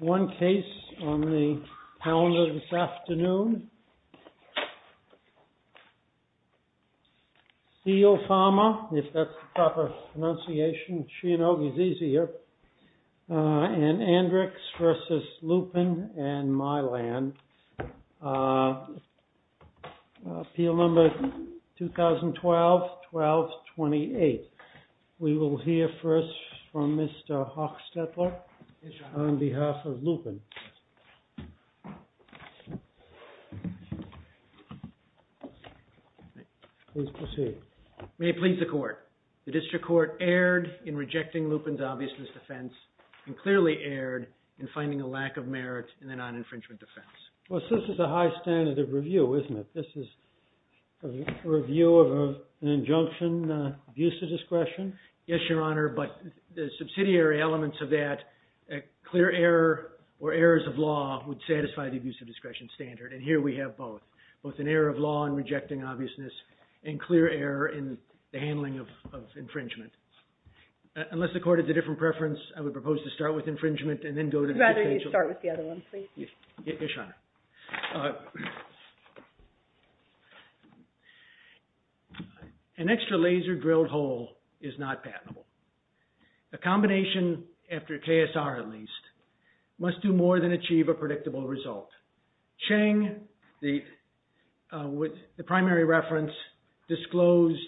One case on the calendar this afternoon. CIELE PHARMA, if that's the proper pronunciation. She and I, it's easier. And Andrix v. Lupin and Mylan. Appeal number 2012-12-28. We will hear first from Mr. Hochstetler. On behalf of Lupin. May it please the court. The district court erred in rejecting Lupin's obviousness defense and clearly erred in finding a lack of merit in the non-infringement defense. Well, this is a high standard of review, isn't it? This is a review of an injunction, abuse of discretion? Yes, Your Honor, but the subsidiary elements of that, a clear error or errors of law would satisfy the abuse of discretion standard. And here we have both. Both an error of law in rejecting obviousness and clear error in the handling of infringement. Unless the court has a different preference, I would propose to start with infringement and then go to the potential. I'd rather you start with the other one, please. Yes, Your Honor. An extra laser drilled hole is not patentable. A combination, after KSR at least, must do more than achieve a predictable result. Chang, with the primary reference, disclosed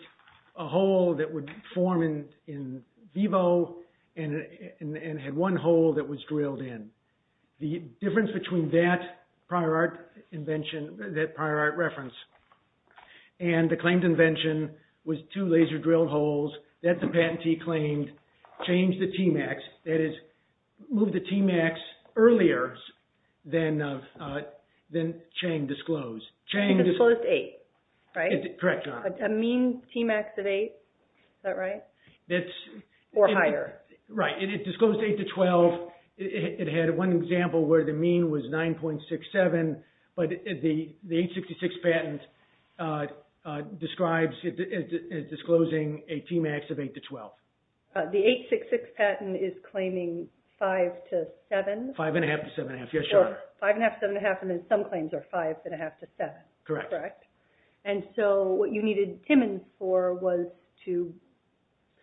a hole that would form in vivo and had one hole that was drilled in. The difference between that prior art invention, that prior art reference, and the claimed invention was two laser drilled holes that the patentee claimed changed the Tmax, that is, moved the Tmax earlier than Chang disclosed. Chang disclosed eight, right? Correct, Your Honor. A mean Tmax of eight, is that right, or higher? Right, it disclosed eight to 12. It had one example where the mean was 9.67, but the 866 patent describes disclosing a Tmax of eight to 12. The 866 patent is claiming five to seven? Five and a half to seven and a half, yes, Your Honor. Five and a half to seven and a half, and then some claims are five and a half to seven. Correct. And so what you needed Timmons for was to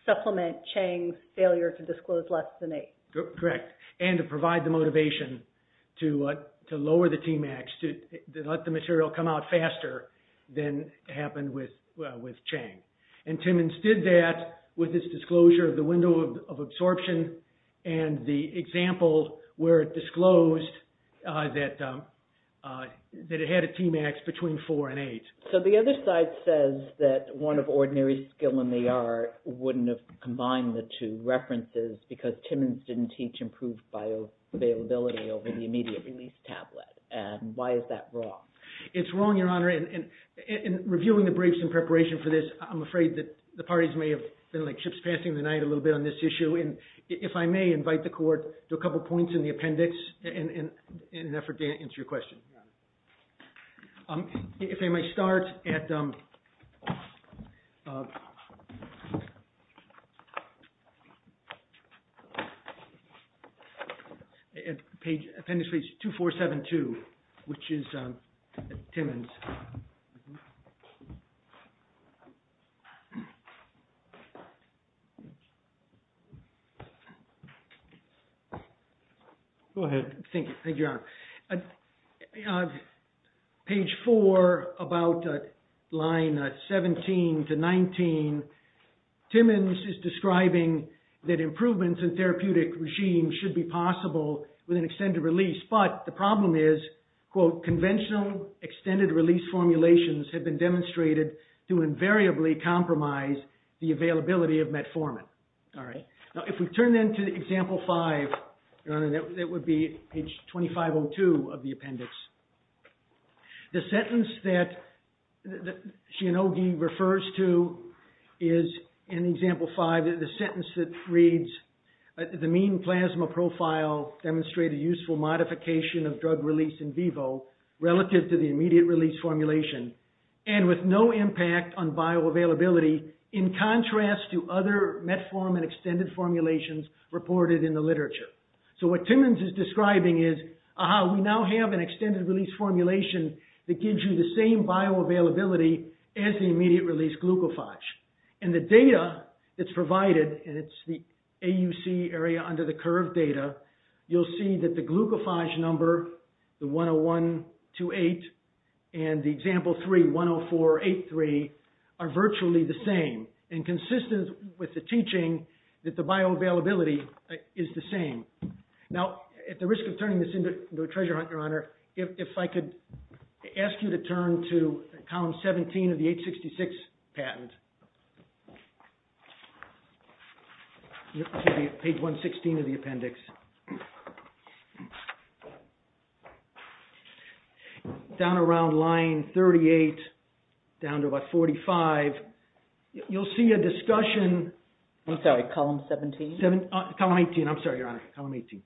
supplement Chang's failure to disclose less than eight. Correct, and to provide the motivation to lower the Tmax, to let the material come out faster than happened with Chang. And Timmons did that with his disclosure of the window of absorption and the example where it disclosed that it had a Tmax between four and eight. So the other side says that one of ordinary skill in the art wouldn't have combined the two references because Timmons didn't teach improved bioavailability over the immediate release tablet. And why is that wrong? It's wrong, Your Honor, and in reviewing the briefs in preparation for this, I'm afraid that the parties may have been like ships passing the night a little bit on this issue. And if I may invite the court to a couple points in the appendix in an effort to answer your question. Your Honor. If I may start at appendix page 2472, which is Timmons. Go ahead. Thank you, Your Honor. On page four, about line 17 to 19, Timmons is describing that improvements in therapeutic regime should be possible with an extended release. But the problem is, quote, conventional extended release formulations have been demonstrated to invariably compromise the availability of metformin. Now, if we turn then to example five, Your Honor, that would be page 2502 of the appendix. The sentence that Shinogi refers to is in example five, the sentence that reads, the mean plasma profile demonstrated useful modification of drug release in vivo relative to the immediate release formulation and with no impact on bioavailability in contrast to other metformin extended formulations reported in the literature. So what Timmons is describing is, aha, we now have an extended release formulation that gives you the same bioavailability as the immediate release glucophage. And the data that's provided, and it's the AUC area under the curve data, you'll see that the glucophage number, the 10128 and the example 3, 10483, are virtually the same and consistent with the teaching that the bioavailability is the same. Now, at the risk of turning this into a treasure hunt, Your Honor, if I could ask you to turn to column 17 of the 866 patent. Page 116 of the appendix. Down around line 38, down to about 45, you'll see a discussion. I'm sorry, column 17? Column 18, I'm sorry, Your Honor, column 18. You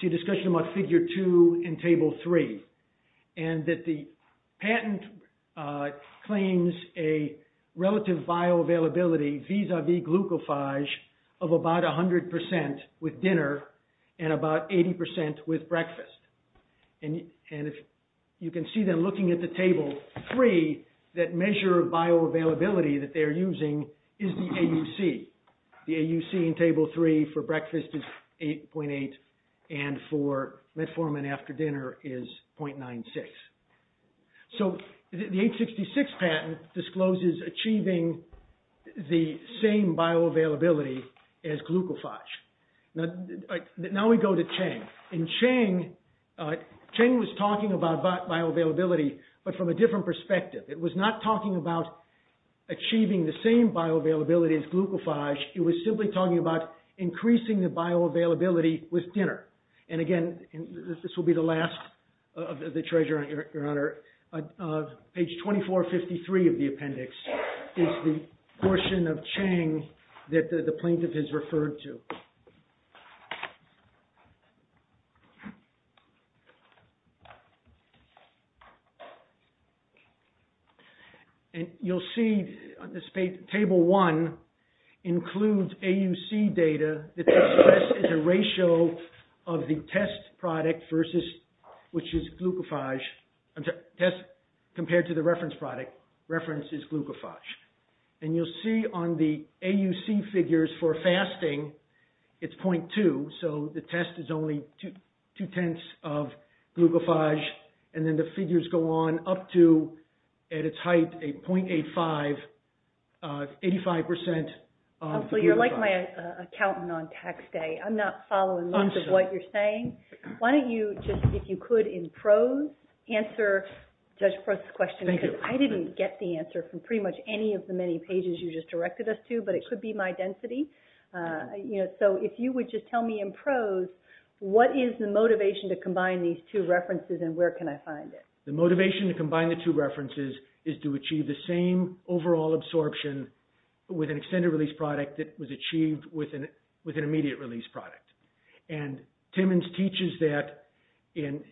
see a discussion about figure 2 and table 3 and that the patent claims a relative bioavailability vis-a-vis glucophage of about 100% with dinner and about 80% with breakfast. And if you can see them looking at the table 3, that measure of bioavailability that they're using is the AUC. The AUC in table 3 for breakfast is 8.8 and for metformin after dinner is 0.96. So the 866 patent discloses achieving the same bioavailability as glucophage. Now we go to Chang. Chang was talking about bioavailability, but from a different perspective. It was not talking about achieving the same bioavailability as glucophage. It was simply talking about increasing the bioavailability with dinner. And again, this will be the last of the treasure, Your Honor. Page 2453 of the appendix is the portion of Chang that the plaintiff has referred to. And you'll see on this page, table 1 includes AUC data. This is a ratio of the test product versus, which is glucophage, I'm sorry, test compared to the reference product. Reference is glucophage. And you'll see on the AUC figures for fasting, So this is a ratio of the test product versus which is glucophage. So the test is only two tenths of glucophage. And then the figures go on up to, at its height, a 0.85, 85%. So you're like my accountant on tax day. I'm not following much of what you're saying. Why don't you just, if you could, in prose, answer Judge Prost's question. I didn't get the answer from pretty much any of the many pages you just directed us to, but it could be my density. You know, so if you would just tell me in prose, what is the motivation to combine these two references and where can I find it? The motivation to combine the two references is to achieve the same overall absorption with an extended release product that was achieved with an immediate release product. And Timmons teaches that in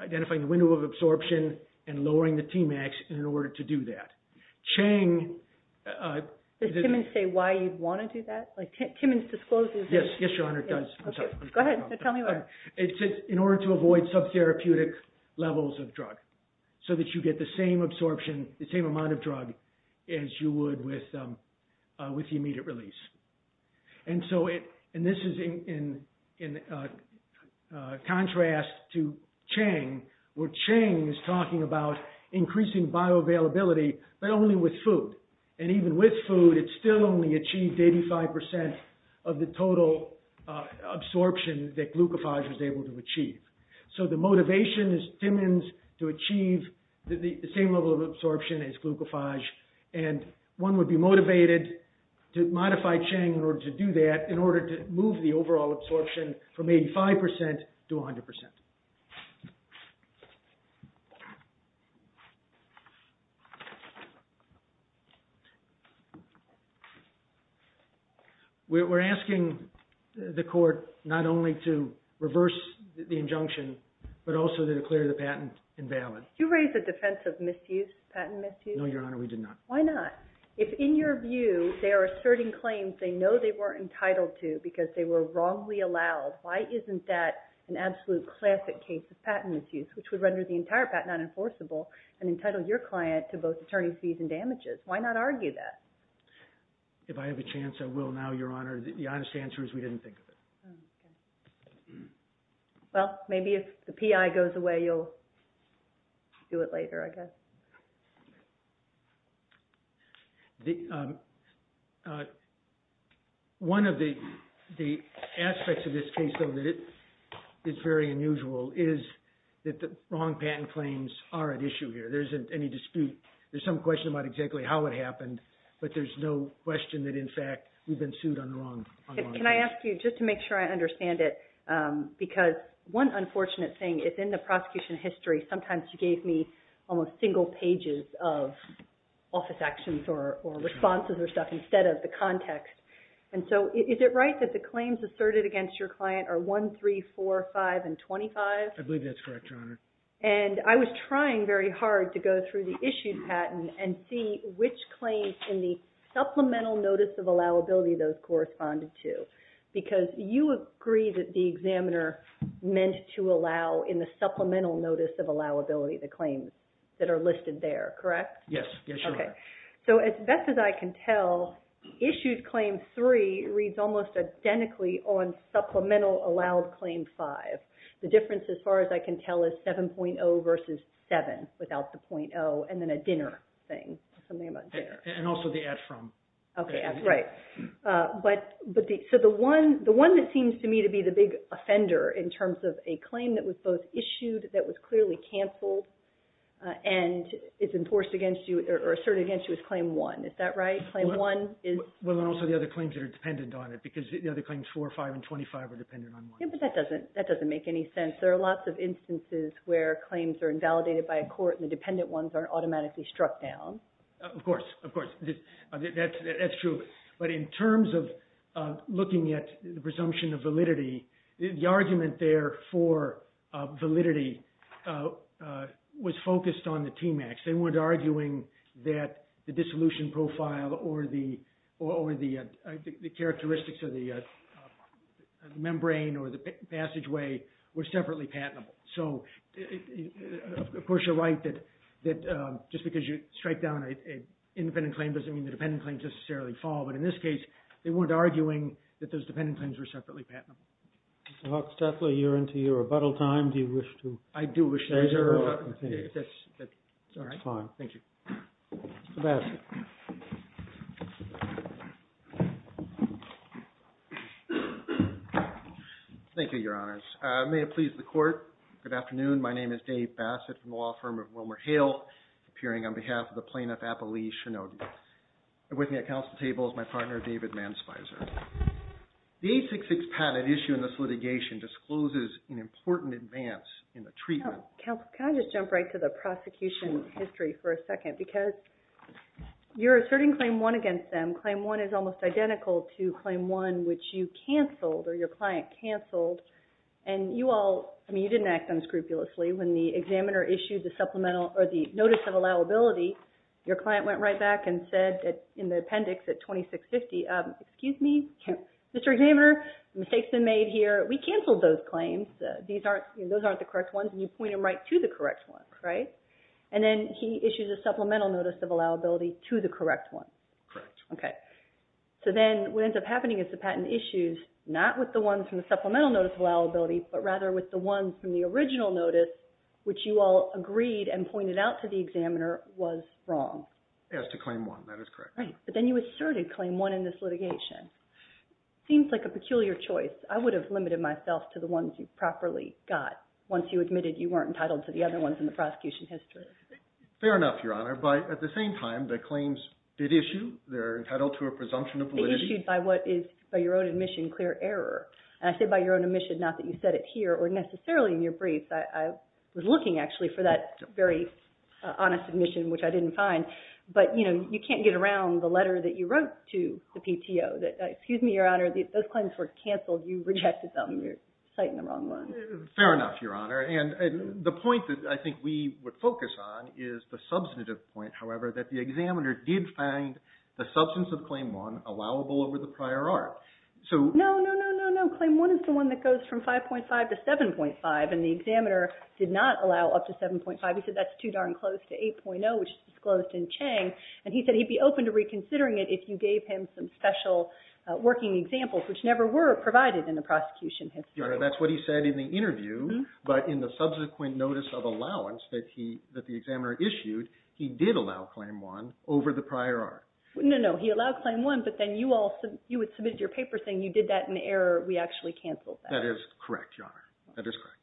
identifying the window of absorption and lowering the Tmax in order to do that. Chang... Can you say why you'd want to do that? Like, Timmons discloses it. Yes, yes, Your Honor, it does. I'm sorry. Go ahead, tell me why. It's in order to avoid sub-therapeutic levels of drug so that you get the same absorption, the same amount of drug as you would with the immediate release. And so, and this is in contrast to Chang, where Chang is talking about increasing bioavailability, but only with food. And even with food, it still only achieved 85% of the total absorption that Glucophage was able to achieve. So the motivation is Timmons to achieve the same level of absorption as Glucophage and one would be motivated to modify Chang in order to do that, in order to move the overall absorption from 85% to 100%. We're asking the court not only to reverse the injunction, but also to declare the patent invalid. You raised the defense of misuse, patent misuse. No, Your Honor, we did not. Why not? If in your view, they are asserting claims they know they weren't entitled to because they were wrongly allowed, why isn't that an absolute classic case of patent misuse, which would render the entire patent unenforceable and entitle your client to both attorney fees and damages? Why not allow that? If I have a chance, I will now, Your Honor. The honest answer is we didn't think of it. Well, maybe if the PI goes away, you'll do it later, I guess. One of the aspects of this case, though, that it is very unusual is that the wrong patent claims are at issue here. There isn't any dispute. There's some question about exactly how it happened, but there's no question that, in fact, we've been sued on the wrong case. Can I ask you, just to make sure I understand it, because one unfortunate thing is in the prosecution history, sometimes you gave me almost single pages of office actions or responses or stuff instead of the context. And so is it right that the claims asserted against your client are 1, 3, 4, 5, and 25? I believe that's correct, Your Honor. And I was trying very hard to go through the issued patent and see which claims in the supplemental notice of allowability those corresponded to, because you agree that the examiner meant to allow in the supplemental notice of allowability the claims that are listed there, correct? Yes. Yes, Your Honor. Okay. So as best as I can tell, issued claim 3 reads almost identically on supplemental allowed claim 5. The difference, as far as I can tell, is 7.0 versus 7 without the .0 and then a dinner thing, something about dinner. And also the add from. Okay, that's right. But so the one that seems to me to be the big offender in terms of a claim that was both issued that was clearly canceled and is enforced against you or asserted against you is claim 1. Is that right? Claim 1 is... Well, and also the other claims that are dependent on it, because the other claims 4, 5, and 25 are dependent on 1. Yeah, but that doesn't make any sense. There are lots of instances where claims are invalidated by a court and the dependent ones are automatically struck down. Of course, of course, that's true. But in terms of looking at the presumption of validity, the argument there for validity was focused on the TMAX. They weren't arguing that the dissolution profile or the characteristics of the membrane or the passageway were separately patentable. So, of course, you're right that just because you strike down an independent claim doesn't mean the dependent claims necessarily fall. But in this case, they weren't arguing that those dependent claims were separately patentable. Mr. Huckstetler, you're into your rebuttal time. Do you wish to... I do wish to... That's fine. Thank you. Thank you, Your Honors. May it please the court. Good afternoon. My name is Dave Bassett from the law firm of WilmerHale, appearing on behalf of the plaintiff, Apolise Shinogi. And with me at council table is my partner, David Manspizer. The 866 patent issue in this litigation discloses an important advance in the treatment... Counsel, can I just jump right to the prosecution history for a second? Because you're asserting Claim 1 is almost identical to Claim 1, which you canceled or your client canceled. And you all, I mean, you didn't act unscrupulously. When the examiner issued the supplemental or the notice of allowability, your client went right back and said in the appendix at 2650, excuse me, Mr. Examiner, mistakes been made here. We canceled those claims. These aren't... Those aren't the correct ones. And you point them right to the correct one, right? And then he issues a supplemental notice of allowability to the correct one. Correct. Okay. So then what ends up happening is the patent issues not with the ones from the supplemental notice of allowability, but rather with the ones from the original notice, which you all agreed and pointed out to the examiner was wrong. As to Claim 1, that is correct. Right. But then you asserted Claim 1 in this litigation. Seems like a peculiar choice. I would have limited myself to the ones you properly got once you admitted you weren't entitled to the other ones in the prosecution history. Fair enough, Your Honor. But at the same time, the claims did issue. They're entitled to a presumption of validity. They issued by what is, by your own admission, clear error. And I say by your own admission, not that you said it here or necessarily in your briefs. I was looking, actually, for that very honest admission, which I didn't find. But you can't get around the letter that you wrote to the PTO that, excuse me, Your Honor, those claims were canceled. You rejected them. You're citing the wrong ones. Fair enough, Your Honor. And the point that I think we would focus on is the substantive point, however, that the examiner allowable over the prior art. So... No, no, no, no, no. Claim 1 is the one that goes from 5.5 to 7.5. And the examiner did not allow up to 7.5. He said that's too darn close to 8.0, which is disclosed in Chang. And he said he'd be open to reconsidering it if you gave him some special working examples, which never were provided in the prosecution history. Your Honor, that's what he said in the interview. But in the subsequent notice of allowance that he, that the examiner issued, he did allow Claim 1 over the prior art. No, no, no. He allowed Claim 1, but then you all, you had submitted your paper saying you did that in error. We actually canceled that. That is correct, Your Honor. That is correct.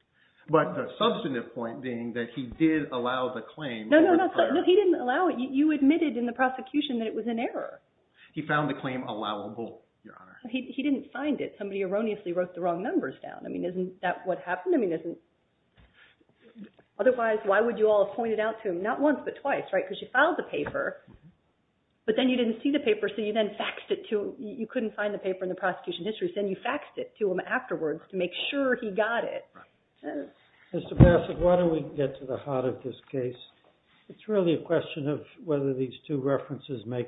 But the substantive point being that he did allow the claim... No, no, no. He didn't allow it. You admitted in the prosecution that it was an error. He found the claim allowable, Your Honor. He didn't find it. Somebody erroneously wrote the wrong numbers down. I mean, isn't that what happened? I mean, isn't... Otherwise, why would you all point it out to him? Not once, but twice, right? Because you filed the paper, but then you didn't see the paper. So you then faxed it to, you couldn't find the paper in the prosecution history. Then you faxed it to him afterwards to make sure he got it. Right. Mr. Bassett, why don't we get to the heart of this case? It's really a question of whether these two references make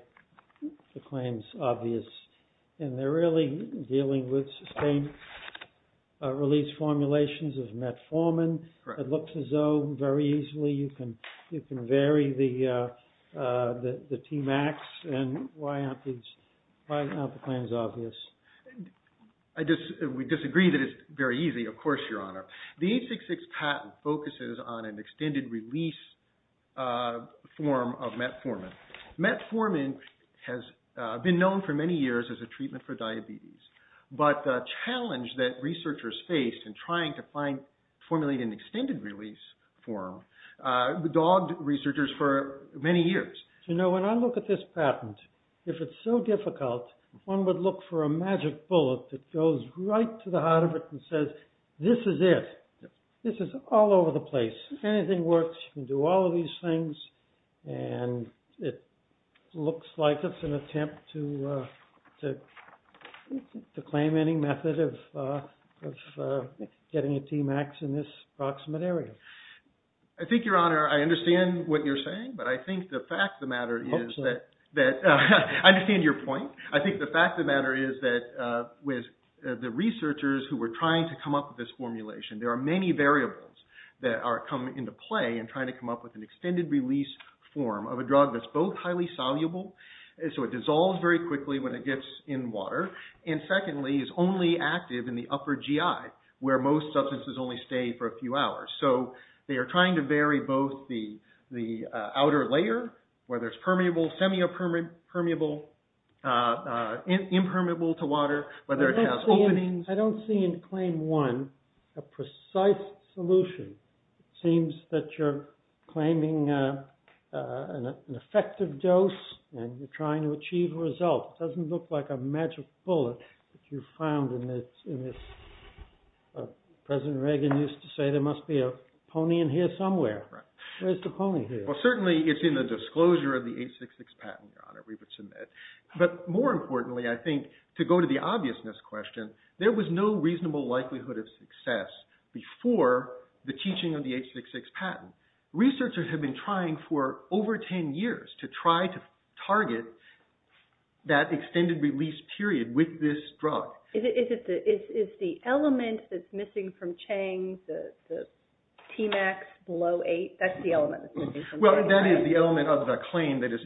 the claims obvious. And they're really dealing with sustained release formulations of metformin. It looks as though very easily you can vary the Tmax. And why aren't these, why aren't the claims obvious? We disagree that it's very easy, of course, Your Honor. The 866 patent focuses on an extended release form of metformin. Metformin has been known for many years as a treatment for diabetes. But the challenge that researchers faced in trying to find, formulate an extended release form, dogged researchers for many years. You know, when I look at this patent, if it's so difficult, one would look for a magic bullet that goes right to the heart of it and says, this is it. This is all over the place. Anything works. You can do all of these things. And it looks like it's an attempt to claim any method of getting a Tmax in this approximate area. I think, Your Honor, I understand what you're saying. But I think the fact of the matter is that, that I understand your point. I think the fact of the matter is that with the researchers who were trying to come up with this formulation, there are many variables that are coming into play and trying to come up with an extended release form of a drug that's both highly soluble. So it dissolves very quickly when it gets in water. And secondly, it's only active in the upper GI, where most substances only stay for a few hours. So they are trying to vary both the outer layer, where there's permeable, impermeable to water, whether it has openings. I don't see in claim one a precise solution. It seems that you're claiming an effective dose and you're trying to achieve a result. It doesn't look like a magic bullet that you found in this. President Reagan used to say there must be a pony in here somewhere. Right. Where's the pony here? Well, certainly it's in the disclosure of the H66 patent, Your Honor, we would submit. But more importantly, I think to go to the obviousness question, there was no reasonable likelihood of success before the teaching of the H66 patent. Researchers have been trying for over 10 years to try to target that extended release period with this drug. Is the element that's missing from Chang, the Tmax below eight, that's the element that's missing? Well, that is the element of the claim that is...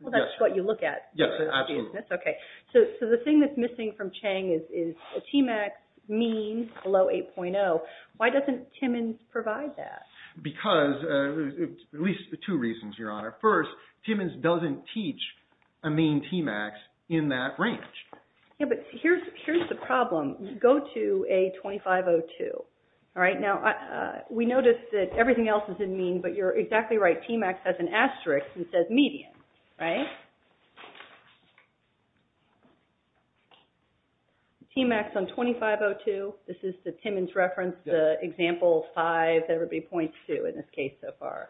Well, that's what you look at. Yes, absolutely. Okay. So the thing that's missing from Chang is Tmax means below 8.0. Why doesn't Timmins provide that? Because, at least two reasons, Your Honor. First, Timmins doesn't teach a mean Tmax in that range. Yeah, but here's the problem. Go to A2502. All right. Now, we noticed that everything else is in mean, but you're exactly right. There's an asterisk that says median, right? Tmax on A2502. This is the Timmins reference, the example five, that would be point two in this case so far.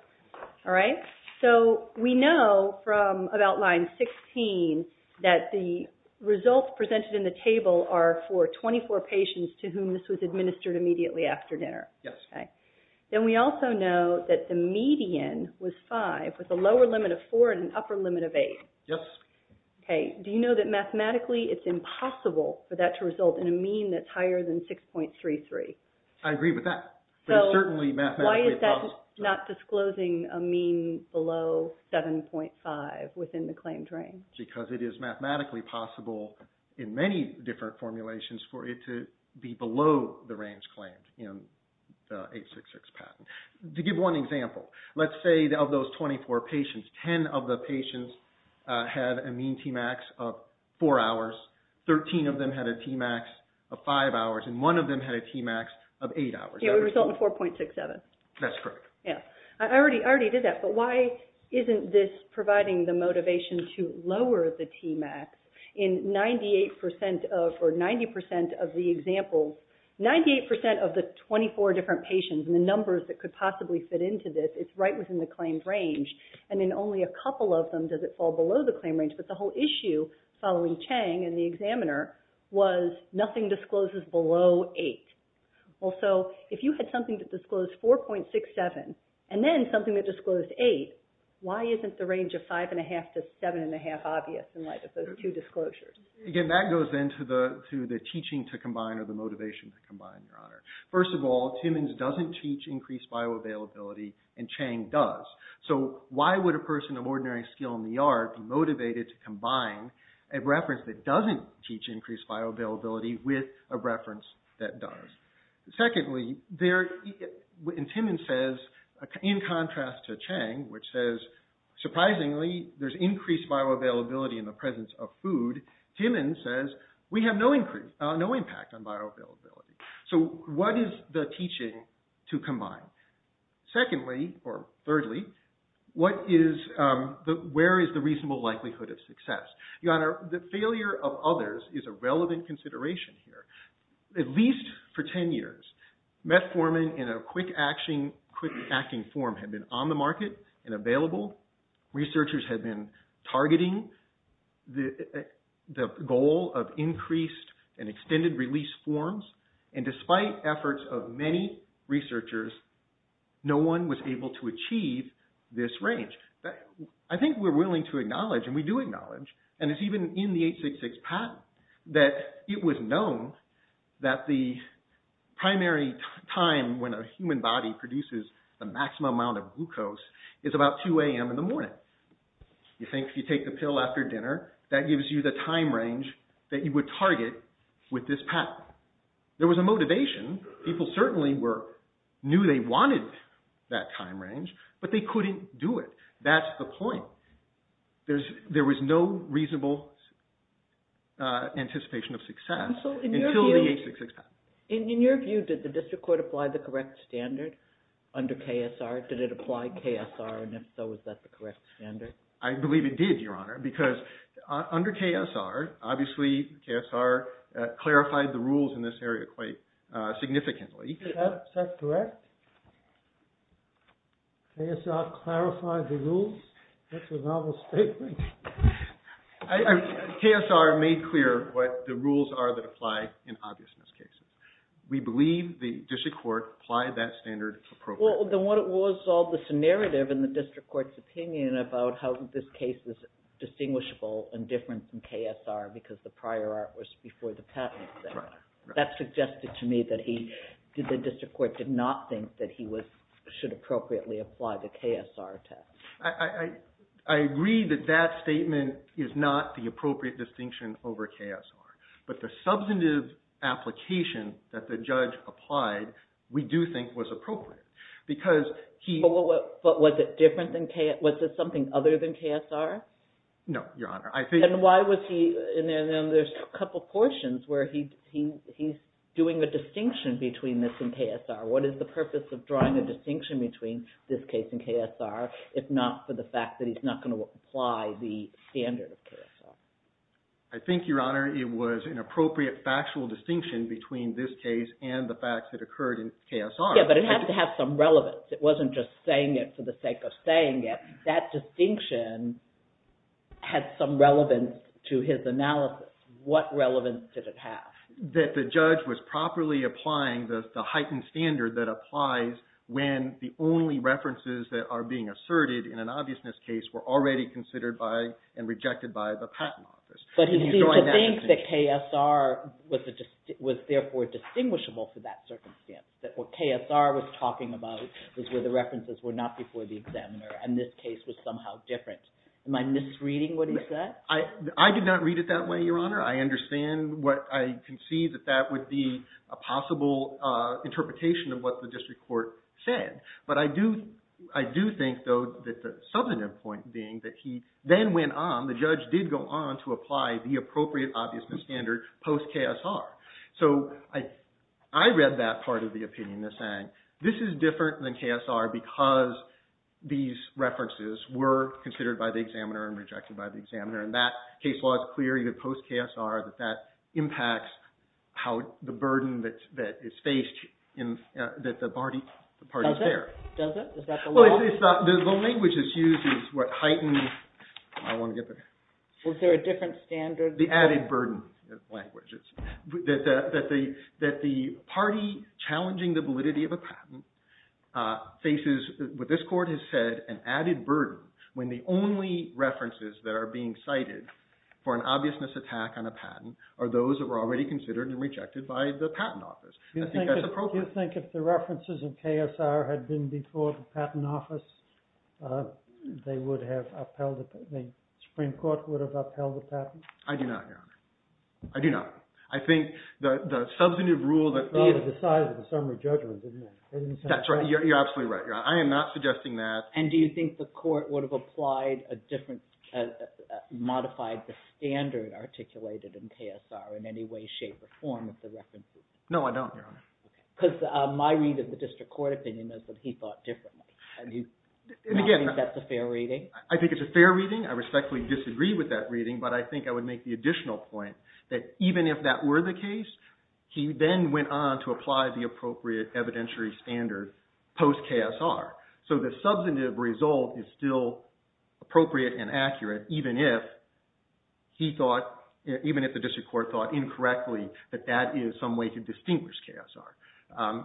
All right. So we know from about line 16 that the results presented in the table are for 24 patients to whom this was administered immediately after dinner. Yes. Then we also know that the median was five with a lower limit of four and an upper limit of eight. Yes. Okay. Do you know that mathematically it's impossible for that to result in a mean that's higher than 6.33? I agree with that. But it's certainly mathematically possible. So why is that not disclosing a mean below 7.5 within the claimed range? Because it is mathematically possible in many different formulations for it to be below the range claimed in the 866 patent. To give one example, let's say of those 24 patients, 10 of the patients have a mean Tmax of four hours, 13 of them had a Tmax of five hours, and one of them had a Tmax of eight hours. It would result in 4.67. That's correct. Yeah. I already did that. But why isn't this providing the motivation to lower the Tmax in 98% of or 90% of the examples, 98% of the 24 different patients and the numbers that could possibly fit into this, it's right within the claimed range. And in only a couple of them, does it fall below the claim range? But the whole issue following Chang and the examiner was nothing discloses below eight. Well, so if you had something that disclosed 4.67 and then something that disclosed eight, why isn't the range of five and a half to seven and a half obvious Again, that goes into the teaching to combine or the motivation to combine, Your Honor. First of all, Timmons doesn't teach increased bioavailability, and Chang does. So why would a person of ordinary skill in the art be motivated to combine a reference that doesn't teach increased bioavailability with a reference that does? Secondly, Timmons says, in contrast to Chang, which says, surprisingly, there's increased bioavailability in the presence of food. Timmons says, we have no impact on bioavailability. So what is the teaching to combine? Secondly, or thirdly, where is the reasonable likelihood of success? Your Honor, the failure of others is a relevant consideration here. At least for 10 years, metformin in a quick-acting form had been on the market and available. Researchers had been targeting the goal of increased and extended release forms. Despite efforts of many researchers, no one was able to achieve this range. I think we're willing to acknowledge, and we do acknowledge, and it's even in the 866 patent, that it was known that the primary time when a human body produces the maximum amount of glucose is about 2 a.m. in the morning. You think if you take the pill after dinner, that gives you the time range that you would target with this patent. There was a motivation. People certainly knew they wanted that time range, but they couldn't do it. That's the point. There was no reasonable anticipation of success until the 866 patent. In your view, did the district court apply the correct standard under KSR? Did it apply KSR, and if so, is that the correct standard? I believe it did, Your Honor, because under KSR, obviously KSR clarified the rules in this area quite significantly. Is that correct? KSR clarified the rules? That's a novel statement. KSR made clear what the rules are that apply in obviousness cases. We believe the district court applied that standard appropriately. Then what was all this narrative in the district court's opinion about how this case is distinguishable and different from KSR because the prior art was before the patent. That suggested to me that the district court did not think that he should appropriately apply the KSR test. I agree that that statement is not the appropriate distinction over KSR, but the substantive application that the judge applied, we do think was appropriate. But was it different than KSR? Was it something other than KSR? No, Your Honor. And why was he... And then there's a couple of portions where he's doing a distinction between this and KSR. What is the purpose of drawing a distinction between this case and KSR, if not for the fact that he's not going to apply the standard of KSR? I think, Your Honor, it was an appropriate factual distinction between this case and the facts that occurred in KSR. Yeah, but it had to have some relevance. It wasn't just saying it for the sake of saying it. That distinction had some relevance to his analysis. What relevance did it have? That the judge was properly applying the heightened standard that applies when the only references that are being asserted in an obviousness case were already considered by and rejected by the patent office. But he seemed to think that KSR was therefore distinguishable for that circumstance, that what KSR was talking about was where the references were not before the examiner, and this case was somehow different. Am I misreading what he said? I did not read it that way, Your Honor. I understand what I can see that that would be a possible interpretation of what the district court said. But I do think, though, that the subordinate point being that he then went on, the judge did go on to apply the appropriate obviousness standard post-KSR. So I read that part of the opinion as saying this is different than KSR because these references were considered by the examiner and rejected by the examiner. And that case law is clear, even post-KSR, that that impacts how the burden that is faced that the party is there. Does it? Is that the law? Well, the language that's used is what heightened... Was there a different standard? The added burden language. That the party challenging the validity of a patent faces, what this court has said, an added burden when the only references that are being cited for an obviousness attack on a patent are those that were already considered and rejected by the patent office. I think that's appropriate. Do you think if the references of KSR had been before the patent office, they would have upheld... The Supreme Court would have upheld the patent? I do not, Your Honor. I do not. I think the substantive rule that... They either decided or the summary judgment didn't. That's right. You're absolutely right. I am not suggesting that... And do you think the court would have applied a different... Modified the standard articulated in KSR in any way, shape, or form with the references? No, I don't, Your Honor. Because my read of the district court opinion is that he thought differently. And again... Do you think that's a fair reading? I think it's a fair reading. I respectfully disagree with that reading, but I think I would make the additional point that even if that were the case, he then went on to apply the appropriate evidentiary standard post-KSR. So the substantive result is still appropriate and accurate even if he thought... Even if the district court thought incorrectly that that is some way to distinguish KSR.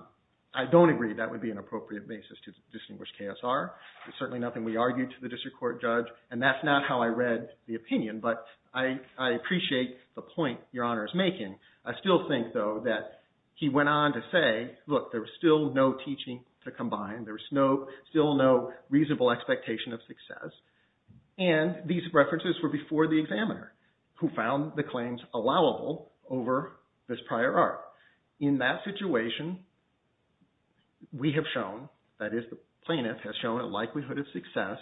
I don't agree that would be an appropriate basis to distinguish KSR. There's certainly nothing we argued to the district court judge. And that's not how I read the opinion, but I appreciate the point Your Honor is making. I still think, though, that he went on to say, look, there's still no teaching to combine. There's still no reasonable expectation of success. And these references were before the examiner who found the claims allowable over this prior art. In that situation, we have shown, that is, the plaintiff has shown a likelihood of success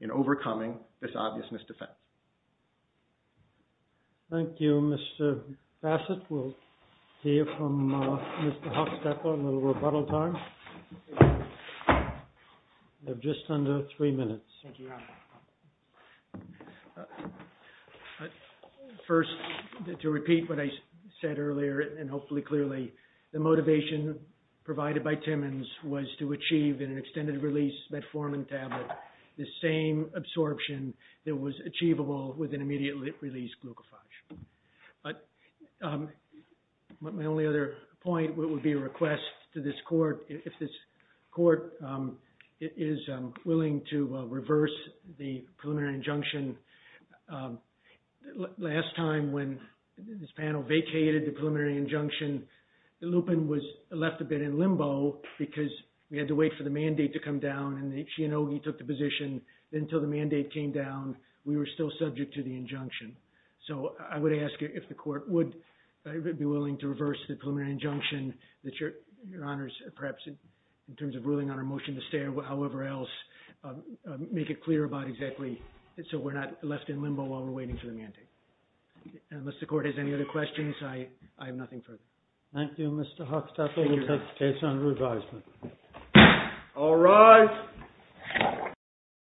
in overcoming this obvious misdefense. Thank you, Mr. Bassett-Wolf. Hear from Mr. Hofstetter a little rebuttal time. You have just under three minutes. First, to repeat what I said earlier, and hopefully clearly, the motivation provided by Timmons was to achieve in an extended release metformin tablet the same absorption that was achievable with an immediately released glucofage. But my only other point would be a request to this court, if this court is willing to reverse the preliminary injunction. Last time when this panel vacated the preliminary injunction, the lupin was left a bit in limbo because we had to wait for the mandate to come down and the Chianogi took the position. Until the mandate came down, we were still subject to the injunction. So I would ask you if the court would be willing to reverse the preliminary injunction that your honors, perhaps in terms of ruling on our motion to stay or however else, make it clear about exactly so we're not left in limbo while we're waiting for the mandate. Unless the court has any other questions, I have nothing further. Thank you, Mr. Hofstetter. We'll take the case on revisal. All rise.